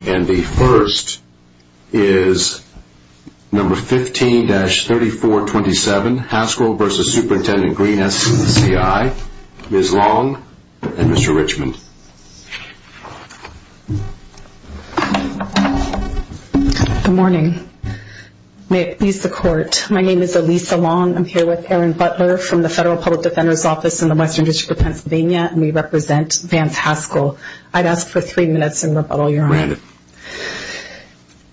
and the first is number 15-3427 Haskell versus Superintendent Greene SCI Ms. Long and Mr. Richmond. Good morning may it please the court my name is Elisa Long I'm here with Erin Butler from the Federal Public Defender's Office in the Western District of Pennsylvania and we represent Vance Haskell. I'd ask for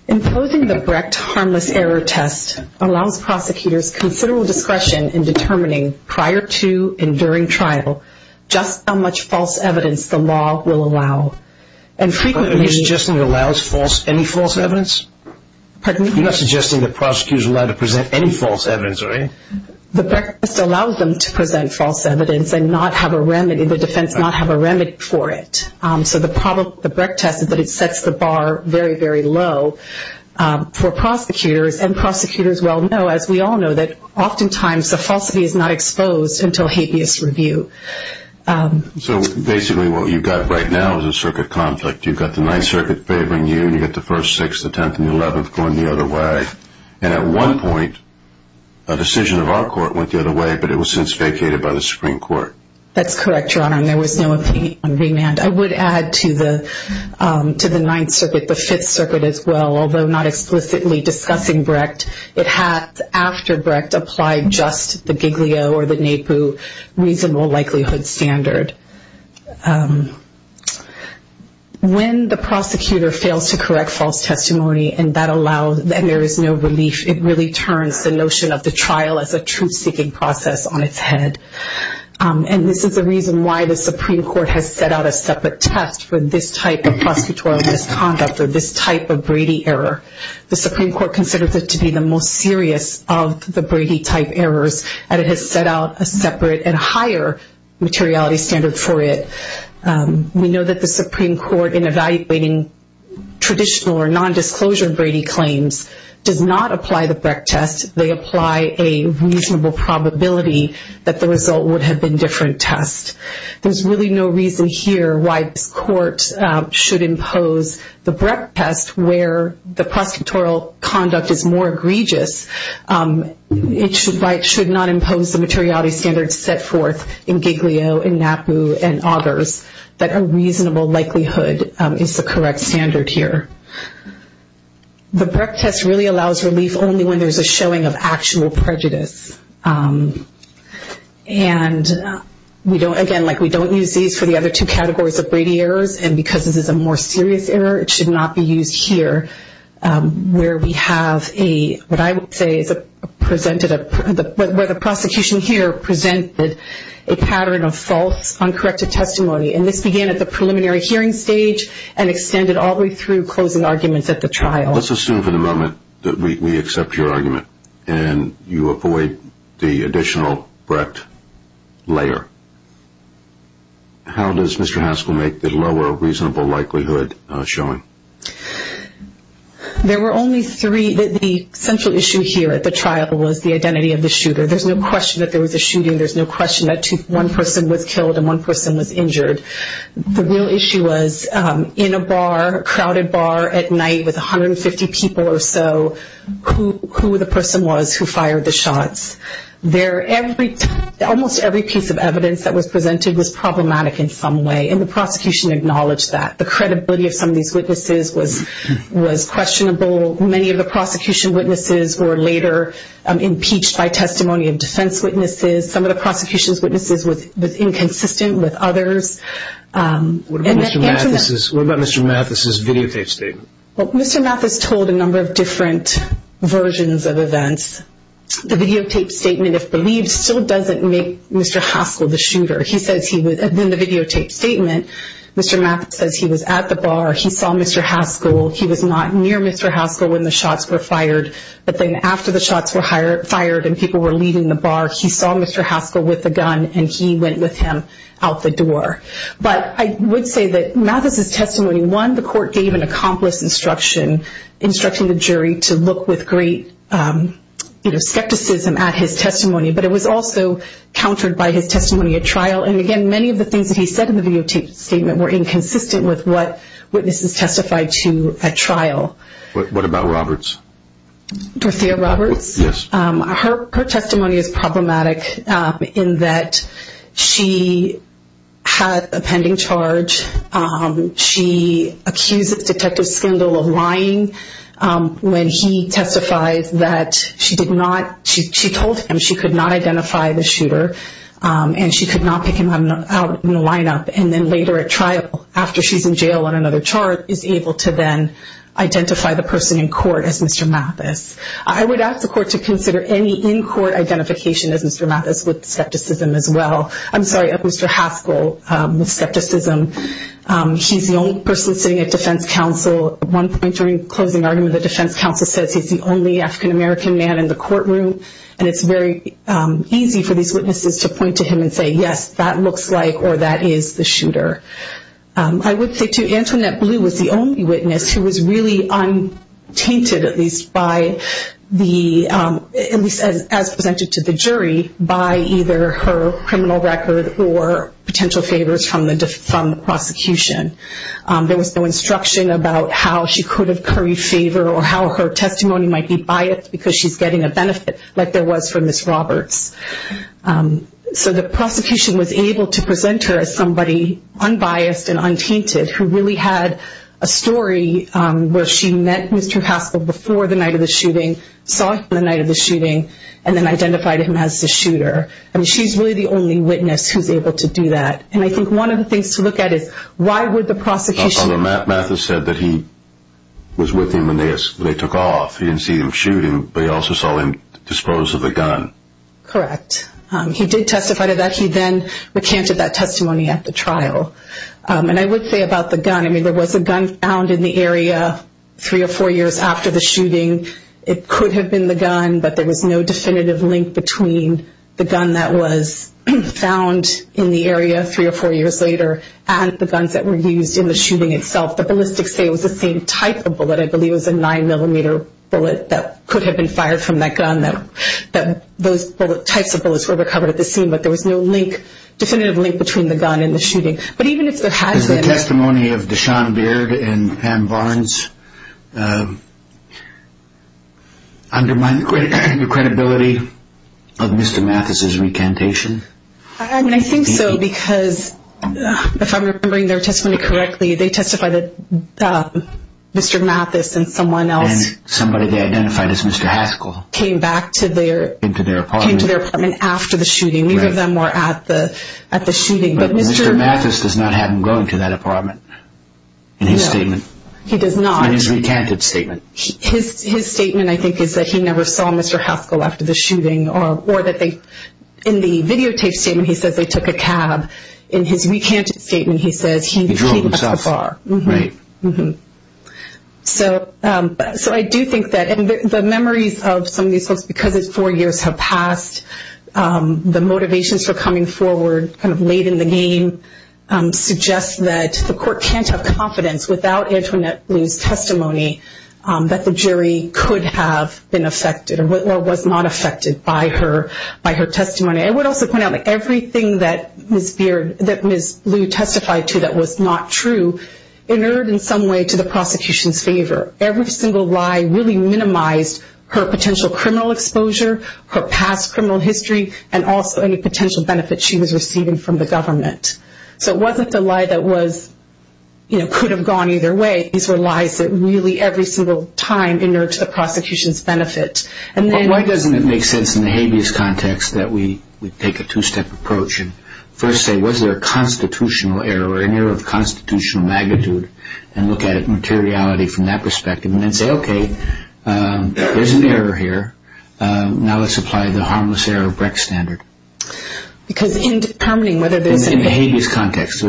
Imposing the Brecht harmless error test allows prosecutors considerable discretion in determining prior to and during trial just how much false evidence the law will allow. Are you suggesting it allows false any false evidence? You're not suggesting that prosecutors are allowed to present any false evidence are you? The Brecht test allows them to present false evidence and not have a remedy the defense not have a remedy for it so the problem the Brecht test is that it sets the bar very very low for prosecutors and prosecutors well know as we all know that oftentimes the falsity is not exposed until habeas review. So basically what you've got right now is a circuit conflict you've got the Ninth Circuit favoring you and you get the first six the tenth and the eleventh going the other way and at one point a decision of our court went the other way but it was since vacated by the Supreme Court. That's correct your to the Ninth Circuit the Fifth Circuit as well although not explicitly discussing Brecht it has after Brecht applied just the Giglio or the Naipu reasonable likelihood standard. When the prosecutor fails to correct false testimony and that allows then there is no relief it really turns the notion of the trial as a truth-seeking process on its head and this is the reason why the misconduct or this type of Brady error the Supreme Court considers it to be the most serious of the Brady type errors and it has set out a separate and higher materiality standard for it. We know that the Supreme Court in evaluating traditional or non-disclosure Brady claims does not apply the Brecht test they apply a reasonable probability that the result would have been different test. There's really no reason here why this court should impose the Brecht test where the prosecutorial conduct is more egregious it should not impose the materiality standards set forth in Giglio and Naipu and others that a reasonable likelihood is the correct standard here. The Brecht test really we don't again like we don't use these for the other two categories of Brady errors and because this is a more serious error it should not be used here where we have a what I would say is a presented a where the prosecution here presented a pattern of false uncorrected testimony and this began at the preliminary hearing stage and extended all the way through closing arguments at the trial. Let's assume for the moment that we accept your argument and you void the additional Brecht layer. How does Mr. Haskell make the lower reasonable likelihood showing? There were only three that the central issue here at the trial was the identity of the shooter there's no question that there was a shooting there's no question that to one person was killed and one person was injured. The real issue was in a bar crowded bar at night with 150 people or so who the person was who fired the shots. Almost every piece of evidence that was presented was problematic in some way and the prosecution acknowledged that. The credibility of some of these witnesses was questionable. Many of the prosecution witnesses were later impeached by testimony of defense witnesses. Some of the prosecution's witnesses was inconsistent with others. What about Mr. Mathis's videotape statement? Mr. Mathis told a number of different versions of events. The videotape statement if believed still doesn't make Mr. Haskell the shooter. He says he was and then the videotape statement Mr. Mathis says he was at the bar he saw Mr. Haskell he was not near Mr. Haskell when the shots were fired but then after the shots were fired and people were leaving the bar he saw Mr. Haskell with the gun and he went with him out the door. But I would say that Mathis's instruction instructing the jury to look with great you know skepticism at his testimony but it was also countered by his testimony at trial and again many of the things that he said in the videotape statement were inconsistent with what witnesses testified to a trial. What about Roberts? Dorothea Roberts? Yes. Her testimony is problematic in that she had a pending charge. She accuses Detective Skindle of lying when he testifies that she did not she told him she could not identify the shooter and she could not pick him out in the lineup and then later at trial after she's in jail on another chart is able to then identify the person in court as Mr. Mathis. I would ask the court to consider any in-court identification as Mr. Mathis with skepticism as well. I'm the only African-American man in the courtroom and it's very easy for these witnesses to point to him and say yes that looks like or that is the shooter. I would say to Antoinette Blue was the only witness who was really untainted at least by the jury by either her criminal record or potential favors from the prosecution. There was no instruction about how she could have curry favor or how her testimony might be biased because she's getting a benefit like there was for Ms. Roberts. So the prosecution was able to present her as somebody unbiased and untainted who really had a story where she met Mr. Haskell before the night of the shooting, saw him the night of the shooting and then identified him as the shooter and she's really the only witness who's able to do that and I think one of the things to look at is why would the prosecution... Mathis said that he was with him when they took off. He didn't see him shooting but he also saw him disposed of the gun. Correct. He did testify to that. He then recanted that testimony at the trial and I would say about the gun I mean there was a gun found in the area three or four years after the shooting. It could have been the gun but there was no definitive link between the gun that was found in the area three or four years later and the guns that were used in the shooting itself. The ballistics say it was the same type of bullet. I believe it was a nine millimeter bullet that could have been fired from that gun that those types of bullets were recovered at the scene but there was no link definitive link between the gun and the shooting but even if there has been... Is the testimony of Dashaun Beard and Pam Barnes undermining the credibility of Mr. Mathis? I mean I think so because if I'm remembering their testimony correctly they testified that Mr. Mathis and someone else, somebody they identified as Mr. Haskell, came back to their apartment after the shooting. Neither of them were at the at the shooting. Mr. Mathis does not have him going to that apartment in his statement. He does not. In his recanted statement. His statement I think is that he never saw Mr. Haskell after the shooting or that they in the videotape statement he says they took a cab. In his recanted statement he says he drove himself to the bar. So I do think that and the memories of some of these folks because it's four years have passed the motivations for coming forward kind of late in the game suggests that the court can't have confidence without Antoinette being affected or was not affected by her testimony. I would also point out that everything that Ms. Beard, that Ms. Blue testified to that was not true inured in some way to the prosecution's favor. Every single lie really minimized her potential criminal exposure, her past criminal history and also any potential benefit she was receiving from the government. So it wasn't the lie that was could have gone either way. These were lies that really every single time inured to the prosecution's benefit. Why doesn't it make sense in the habeas context that we take a two-step approach and first say was there a constitutional error or an error of constitutional magnitude and look at it materiality from that perspective and then say okay there's an error here. Now let's apply the harmless error of Brecht standard. Because in determining whether there's an error. In the habeas context.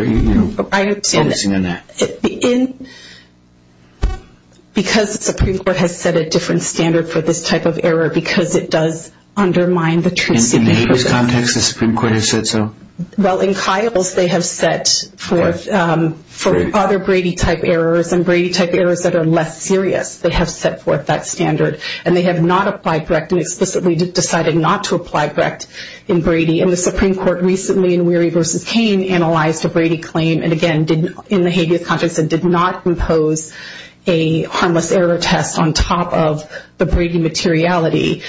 Because the Supreme Court has set a different standard for this type of error because it does undermine the truth. In the habeas context the Supreme Court has said so? Well in Kyle's they have set forth for other Brady type errors and Brady type errors that are less serious they have set forth that standard and they have not applied Brecht and explicitly decided not to apply Brecht in Brady and the Supreme Court recently in Weary v. Hayne analyzed a Brady claim and again in the habeas context did not impose a harmless error test on top of the Brady materiality.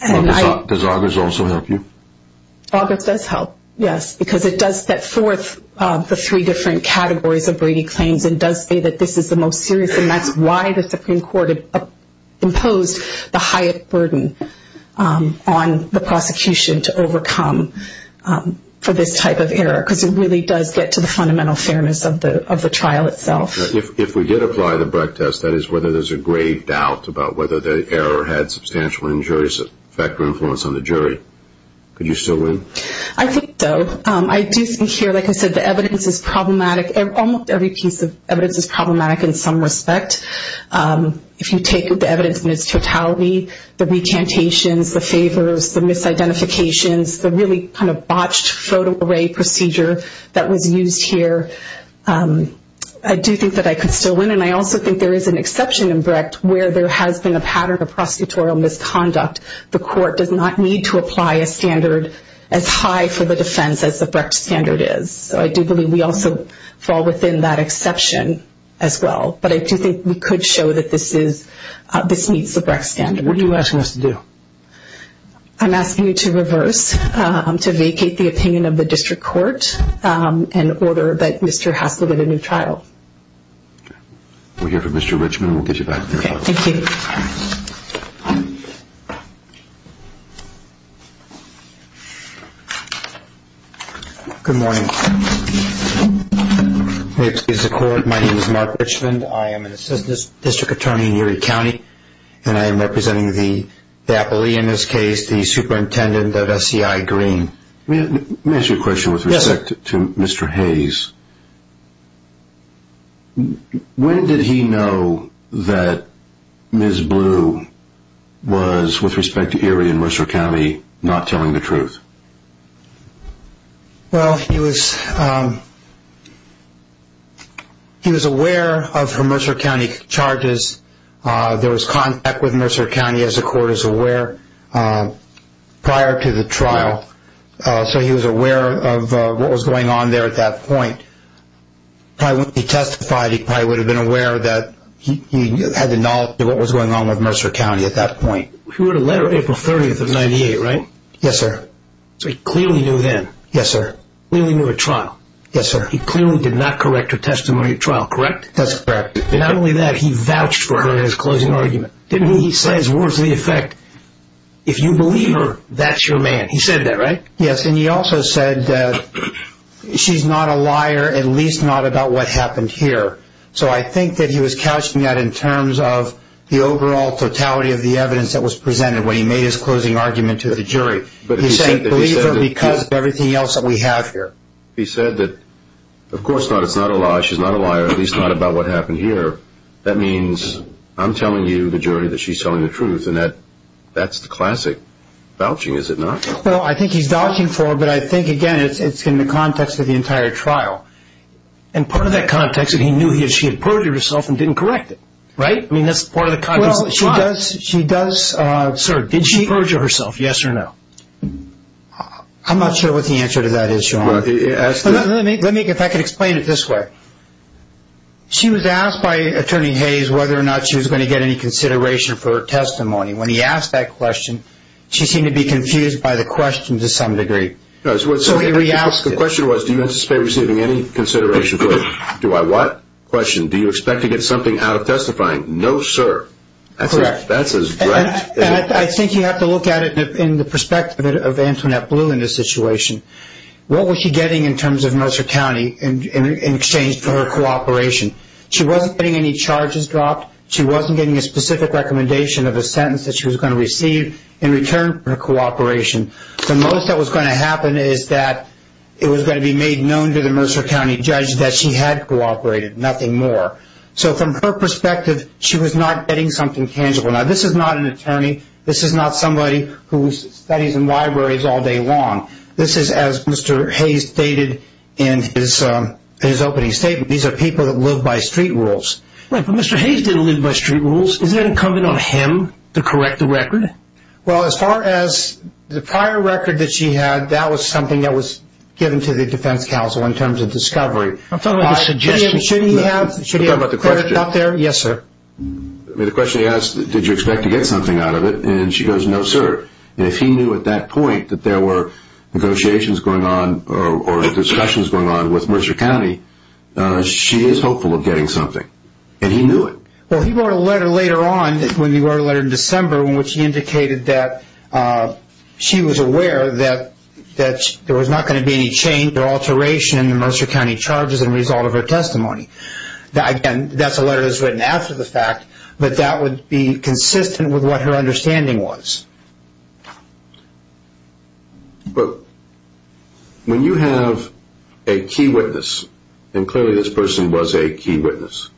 Does Augers also help you? Augers does help yes because it does set forth the three different categories of Brady claims and does say that this is the most serious and that's why the Supreme Court imposed the highest burden on the prosecution to overcome for this type of error because it really does get to the fundamental fairness of the trial itself. If we did apply the Brecht test that is whether there's a grave doubt about whether the error had substantial injurious effect or influence on the jury. Could you still win? I think so. I do think here like I said the evidence is problematic. Almost every piece of evidence is problematic in some respect. If you take the evidence in its totality, the recantations, the favors, the misidentifications, the really kind of botched photo array procedure that was used here, I do think I could still win and I also think there is an exception in Brecht where there has been a pattern of prosecutorial misconduct. The court does not need to apply a standard as high for the defense as the Brecht standard is. So I do believe we also fall within that exception as well but I do think we could show that this is, this meets the Brecht standard. What are you asking us to do? I'm asking you to reverse, to vacate the opinion of the district court and order that Mr. Haskell get a new trial. We'll hear from Mr. Richmond and we'll get you back to the court. Thank you. Good morning. May it please the court, my name is Mark Richmond, I am an assistant district attorney in Erie County and I am representing the appellee in this case, the superintendent of SCI Green. May I ask you a question with respect to Mr. Hayes, when did he know that Ms. Blue was with respect to Erie and Mercer County not telling the truth? Well he was aware of her Mercer County charges, there was contact with Mercer County as the court is aware prior to the trial so he was aware of what was going on there at that point. He testified he probably would have been aware that he had the knowledge of what was going on with Mercer County at that point. You wrote a letter April 30th of 98 right? Yes sir. So he clearly knew then? Yes sir. Clearly knew at trial? Yes sir. He clearly did not correct her testimony at trial, correct? That's correct. Not only that, he vouched for her in his closing argument. Didn't he? He says words to the effect, if you believe her, that's your man. He said that right? Yes and he also said that she's not a liar at least not about what happened here. So I think that he was couching that in terms of the overall totality of the evidence that was presented when he made his closing argument to the jury. He said believe her because of everything else that we have here. He said that of course it's not a lie, she's not a liar at least not about what happened here. That means I'm telling you the jury that she's telling the truth and that's the classic vouching is it not? Well I think he's vouching for her but I think again it's in the context of the entire trial. And part of that context is he knew she had perjured herself and didn't correct it, right? I mean that's part of the context of the trial. Well she does, sir, did she perjure herself, yes or no? I'm not sure what the answer to that is Sean. Let me, if I could explain it this way. She was asked by Attorney Hayes whether or not she was going to get any consideration for her testimony. When he asked that question, she seemed to be confused by the question to some degree. So he re-asked it. The question was do you anticipate receiving any consideration for it? Do I what? Question, do you expect to get something out of testifying? No, sir. That's correct. I think you have to look at it in the perspective of Antoinette Blue in this situation. What was she getting in terms of Mercer County in exchange for her cooperation? She wasn't getting any charges dropped. She wasn't getting a specific recommendation of a sentence that she was going to receive in return for her cooperation. The most that was going to happen is that it was going to be made known to the Mercer County judge that she had cooperated, nothing more. So from her perspective, she was not getting something tangible. Now this is not an attorney. This is not somebody who studies in libraries all day long. This is as Mr. Hayes stated in his opening statement. These are people that live by street rules. Right, but Mr. Hayes didn't live by street rules. Isn't that incumbent on him to correct the record? Well, as far as the prior record that she had, that was something that was given to the defense counsel in terms of discovery. I'm talking about the suggestion. Should he have it out there? Yes, sir. The question he asked, did you expect to get something out of it? And she goes, no, sir. And if he knew at that point that there were negotiations going on or discussions going on with Mercer County, she is hopeful of getting something. And he knew it. Well, he wrote a letter later on when he wrote a letter in December in which he indicated that she was aware that there was not going to be any change or alteration in the Mercer County charges as a result of her testimony. Again, that's a letter that was written after the fact, but that would be consistent with what her understanding was. But when you have a key witness, and clearly this person was a key witness,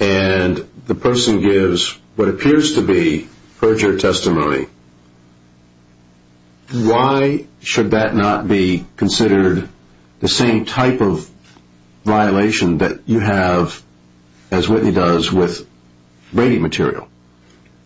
and the person gives what appears to be perjured testimony, why should that not be considered the same type of violation that you have, as Whitney does, with Brady material?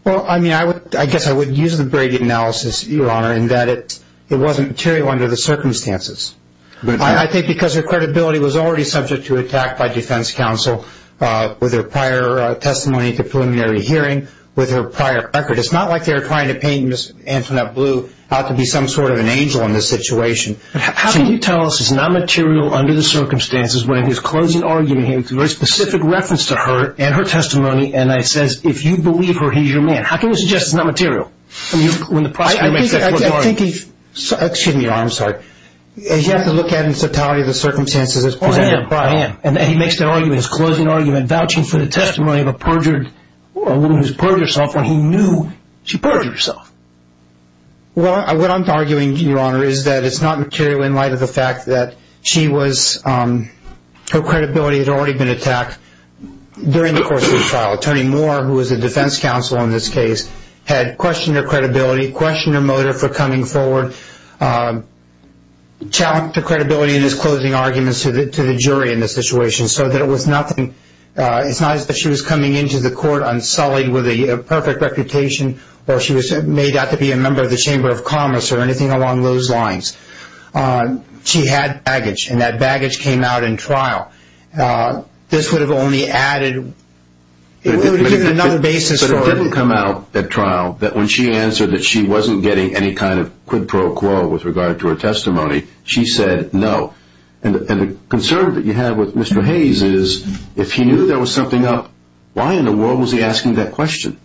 Well, I mean, I guess I would use the Brady analysis, Your Honor, in that it wasn't material under the circumstances. I think because her credibility was already subject to attack by defense counsel with her prior testimony at the preliminary hearing, with her prior record. It's not like they were trying to paint Ms. Antoinette Blue out to be some sort of an angel in this situation. How can you tell this is not material under the circumstances when in his closing argument he has a very specific reference to her and her testimony, and it says, if you believe her, he's your man? How can you suggest it's not material? I think he's – excuse me, Your Honor, I'm sorry. You have to look at the totality of the circumstances as presented by – I am, I am. And he makes that argument, his closing argument, vouching for the testimony of a perjured – a woman who's perjured herself when he knew she perjured herself. Well, what I'm arguing, Your Honor, is that it's not material in light of the fact that she was – her credibility had already been attacked during the course of the trial. Attorney Moore, who was the defense counsel in this case, had questioned her credibility, questioned her motive for coming forward, challenged her credibility in his closing arguments to the jury in this situation so that it was nothing – it's not as if she was coming into the court unsullied with a perfect reputation or she was made out to be a member of the Chamber of Commerce or anything along those lines. She had baggage, and that baggage came out in trial. This would have only added – it would have given another basis for – that when she answered that she wasn't getting any kind of quid pro quo with regard to her testimony, she said no. And the concern that you have with Mr. Hayes is if he knew there was something up, why in the world was he asking that question?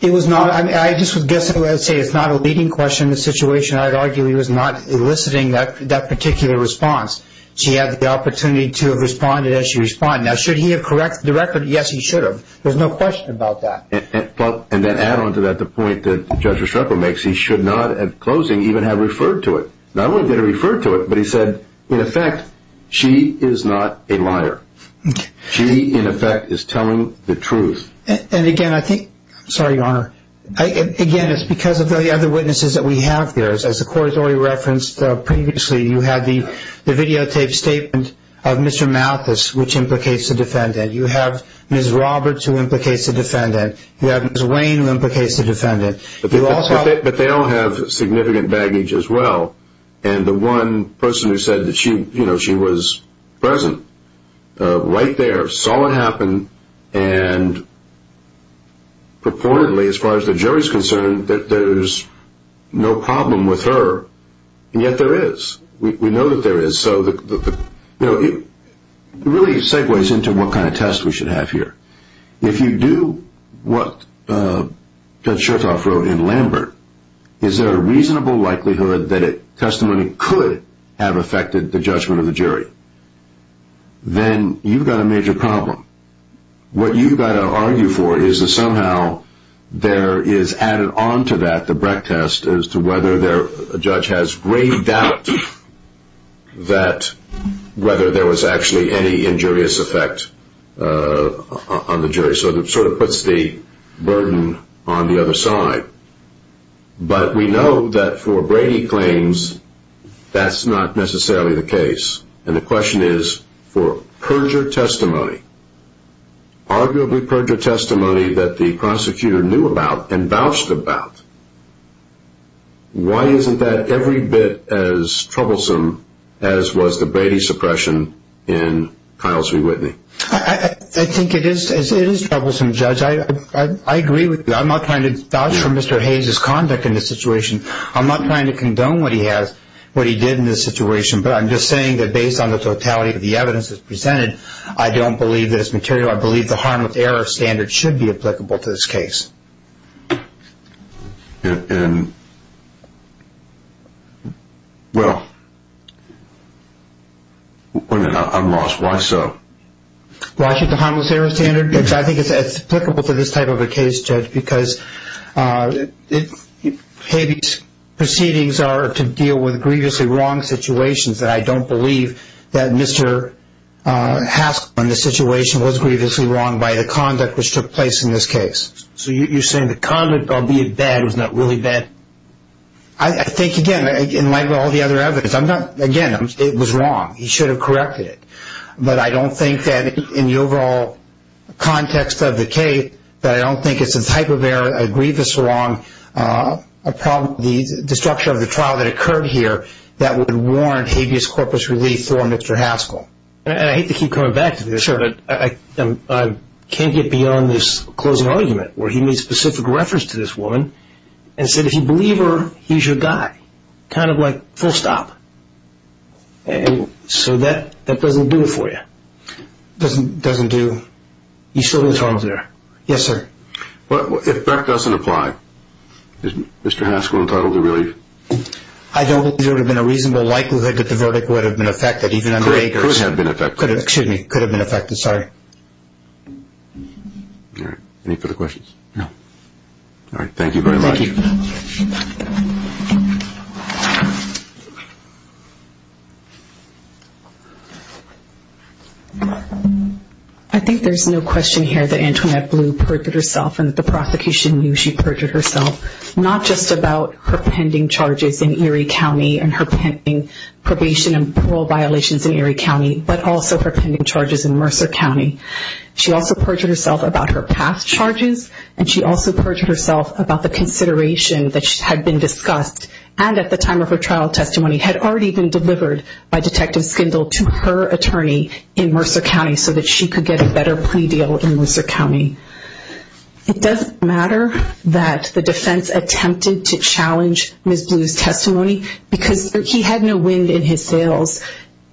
It was not – I mean, I just would guess – I would say it's not a leading question in this situation. I would argue he was not eliciting that particular response. She had the opportunity to have responded as she responded. Now, should he have corrected the record? Yes, he should have. There's no question about that. And then add on to that the point that Judge Estrepo makes. He should not, at closing, even have referred to it. Not only did he refer to it, but he said, in effect, she is not a liar. She, in effect, is telling the truth. And again, I think – sorry, Your Honor. Again, it's because of the other witnesses that we have there. As the court has already referenced previously, you had the videotaped statement of Mr. Mathis, which implicates the defendant. You have Ms. Roberts, who implicates the defendant. You have Ms. Wayne, who implicates the defendant. But they all have significant baggage as well. And the one person who said that she was present right there, saw it happen, and purportedly, as far as the jury is concerned, that there's no problem with her. And yet there is. We know that there is. So it really segues into what kind of test we should have here. If you do what Judge Chertoff wrote in Lambert, is there a reasonable likelihood that testimony could have affected the judgment of the jury? Then you've got a major problem. What you've got to argue for is that somehow there is added on to that the Brecht test as to whether a judge has grave doubt that whether there was actually any injurious effect on the jury. So it sort of puts the burden on the other side. But we know that for Brady claims, that's not necessarily the case. And the question is for perjure testimony, arguably perjure testimony that the prosecutor knew about and vouched about. Why isn't that every bit as troublesome as was the Brady suppression in Kyle's v. Whitney? I think it is troublesome, Judge. I agree with you. I'm not trying to vouch for Mr. Hayes' conduct in this situation. I'm not trying to condone what he did in this situation. But I'm just saying that based on the totality of the evidence that's presented, I don't believe that it's material. I believe the harmless error standard should be applicable to this case. And, well, I'm lost. Why so? Why should the harmless error standard? I think it's applicable to this type of a case, Judge, because Hayes' proceedings are to deal with grievously wrong situations that I don't believe that Mr. Haskell, in this situation, was grievously wrong by the conduct which took place in this case. So you're saying the conduct, albeit bad, was not really bad? I think, again, in light of all the other evidence, again, it was wrong. He should have corrected it. But I don't think that in the overall context of the case, that I don't think it's a type of error, a grievous wrong, the structure of the trial that occurred here that would warrant habeas corpus relief for Mr. Haskell. And I hate to keep coming back to this, but I can't get beyond this closing argument where he made specific reference to this woman and said, if you believe her, he's your guy, kind of like full stop. So that doesn't do it for you? Doesn't do. You still think it's harmless error? Yes, sir. If that doesn't apply, is Mr. Haskell entitled to relief? I don't think there would have been a reasonable likelihood that the verdict would have been affected. It could have been affected. Excuse me. It could have been affected. Sorry. All right. Any further questions? No. All right. Thank you very much. Thank you. Thank you. I think there's no question here that Antoinette Blue perjured herself and that the prosecution knew she perjured herself, not just about her pending charges in Erie County and her pending probation and parole violations in Erie County, but also her pending charges in Mercer County. She also perjured herself about her past charges, and she also perjured herself about the consideration that had been discussed and at the time of her trial testimony had already been delivered by Detective Skindle to her attorney in Mercer County so that she could get a better plea deal in Mercer County. It doesn't matter that the defense attempted to challenge Ms. Blue's testimony because he had no wind in his sails.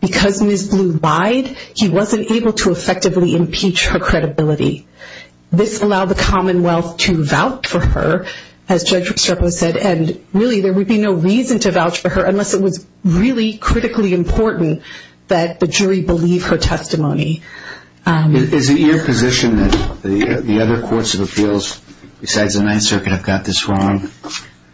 Because Ms. Blue lied, he wasn't able to effectively impeach her credibility. This allowed the Commonwealth to vouch for her, as Judge Restrepo said, and really there would be no reason to vouch for her unless it was really critically important that the jury believe her testimony. Is it your position that the other courts of appeals, besides the Ninth Circuit, have got this wrong?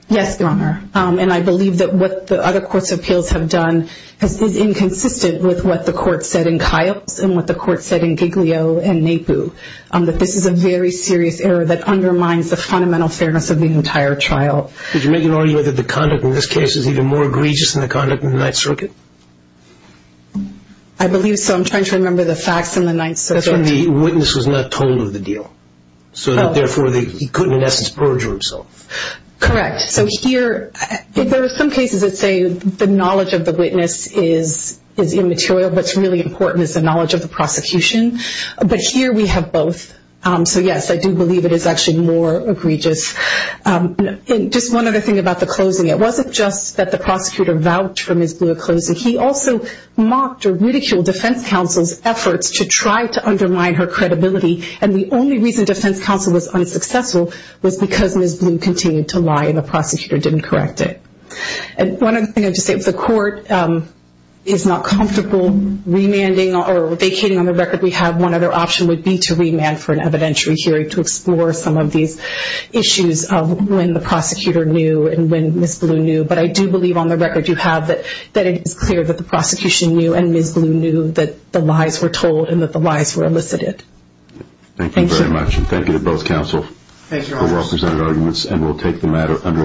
Yes, Your Honor. And I believe that what the other courts of appeals have done is inconsistent with what the court said in Kyle's and what the court said in Giglio and Napu, that this is a very serious error that undermines the fundamental fairness of the entire trial. Did you make an argument that the conduct in this case is even more egregious than the conduct in the Ninth Circuit? I believe so. I'm trying to remember the facts in the Ninth Circuit. The witness was not told of the deal, so therefore he couldn't in essence perjure himself. Correct. So here, there are some cases that say the knowledge of the witness is immaterial, but what's really important is the knowledge of the prosecution. But here we have both. So yes, I do believe it is actually more egregious. Just one other thing about the closing. It wasn't just that the prosecutor vouched for Ms. Blue at closing. He also mocked or ridiculed defense counsel's efforts to try to undermine her credibility, and the only reason defense counsel was unsuccessful was because Ms. Blue continued to lie and the prosecutor didn't correct it. One other thing I'd just say. If the court is not comfortable remanding or vacating on the record, we have one other option would be to remand for an evidentiary hearing to explore some of these issues of when the prosecutor knew and when Ms. Blue knew. But I do believe on the record you have that it is clear that the prosecution knew and Ms. Blue knew that the lies were told and that the lies were elicited. Thank you very much. Thank you to both counsel for well-presented arguments, and we'll take the matter under review.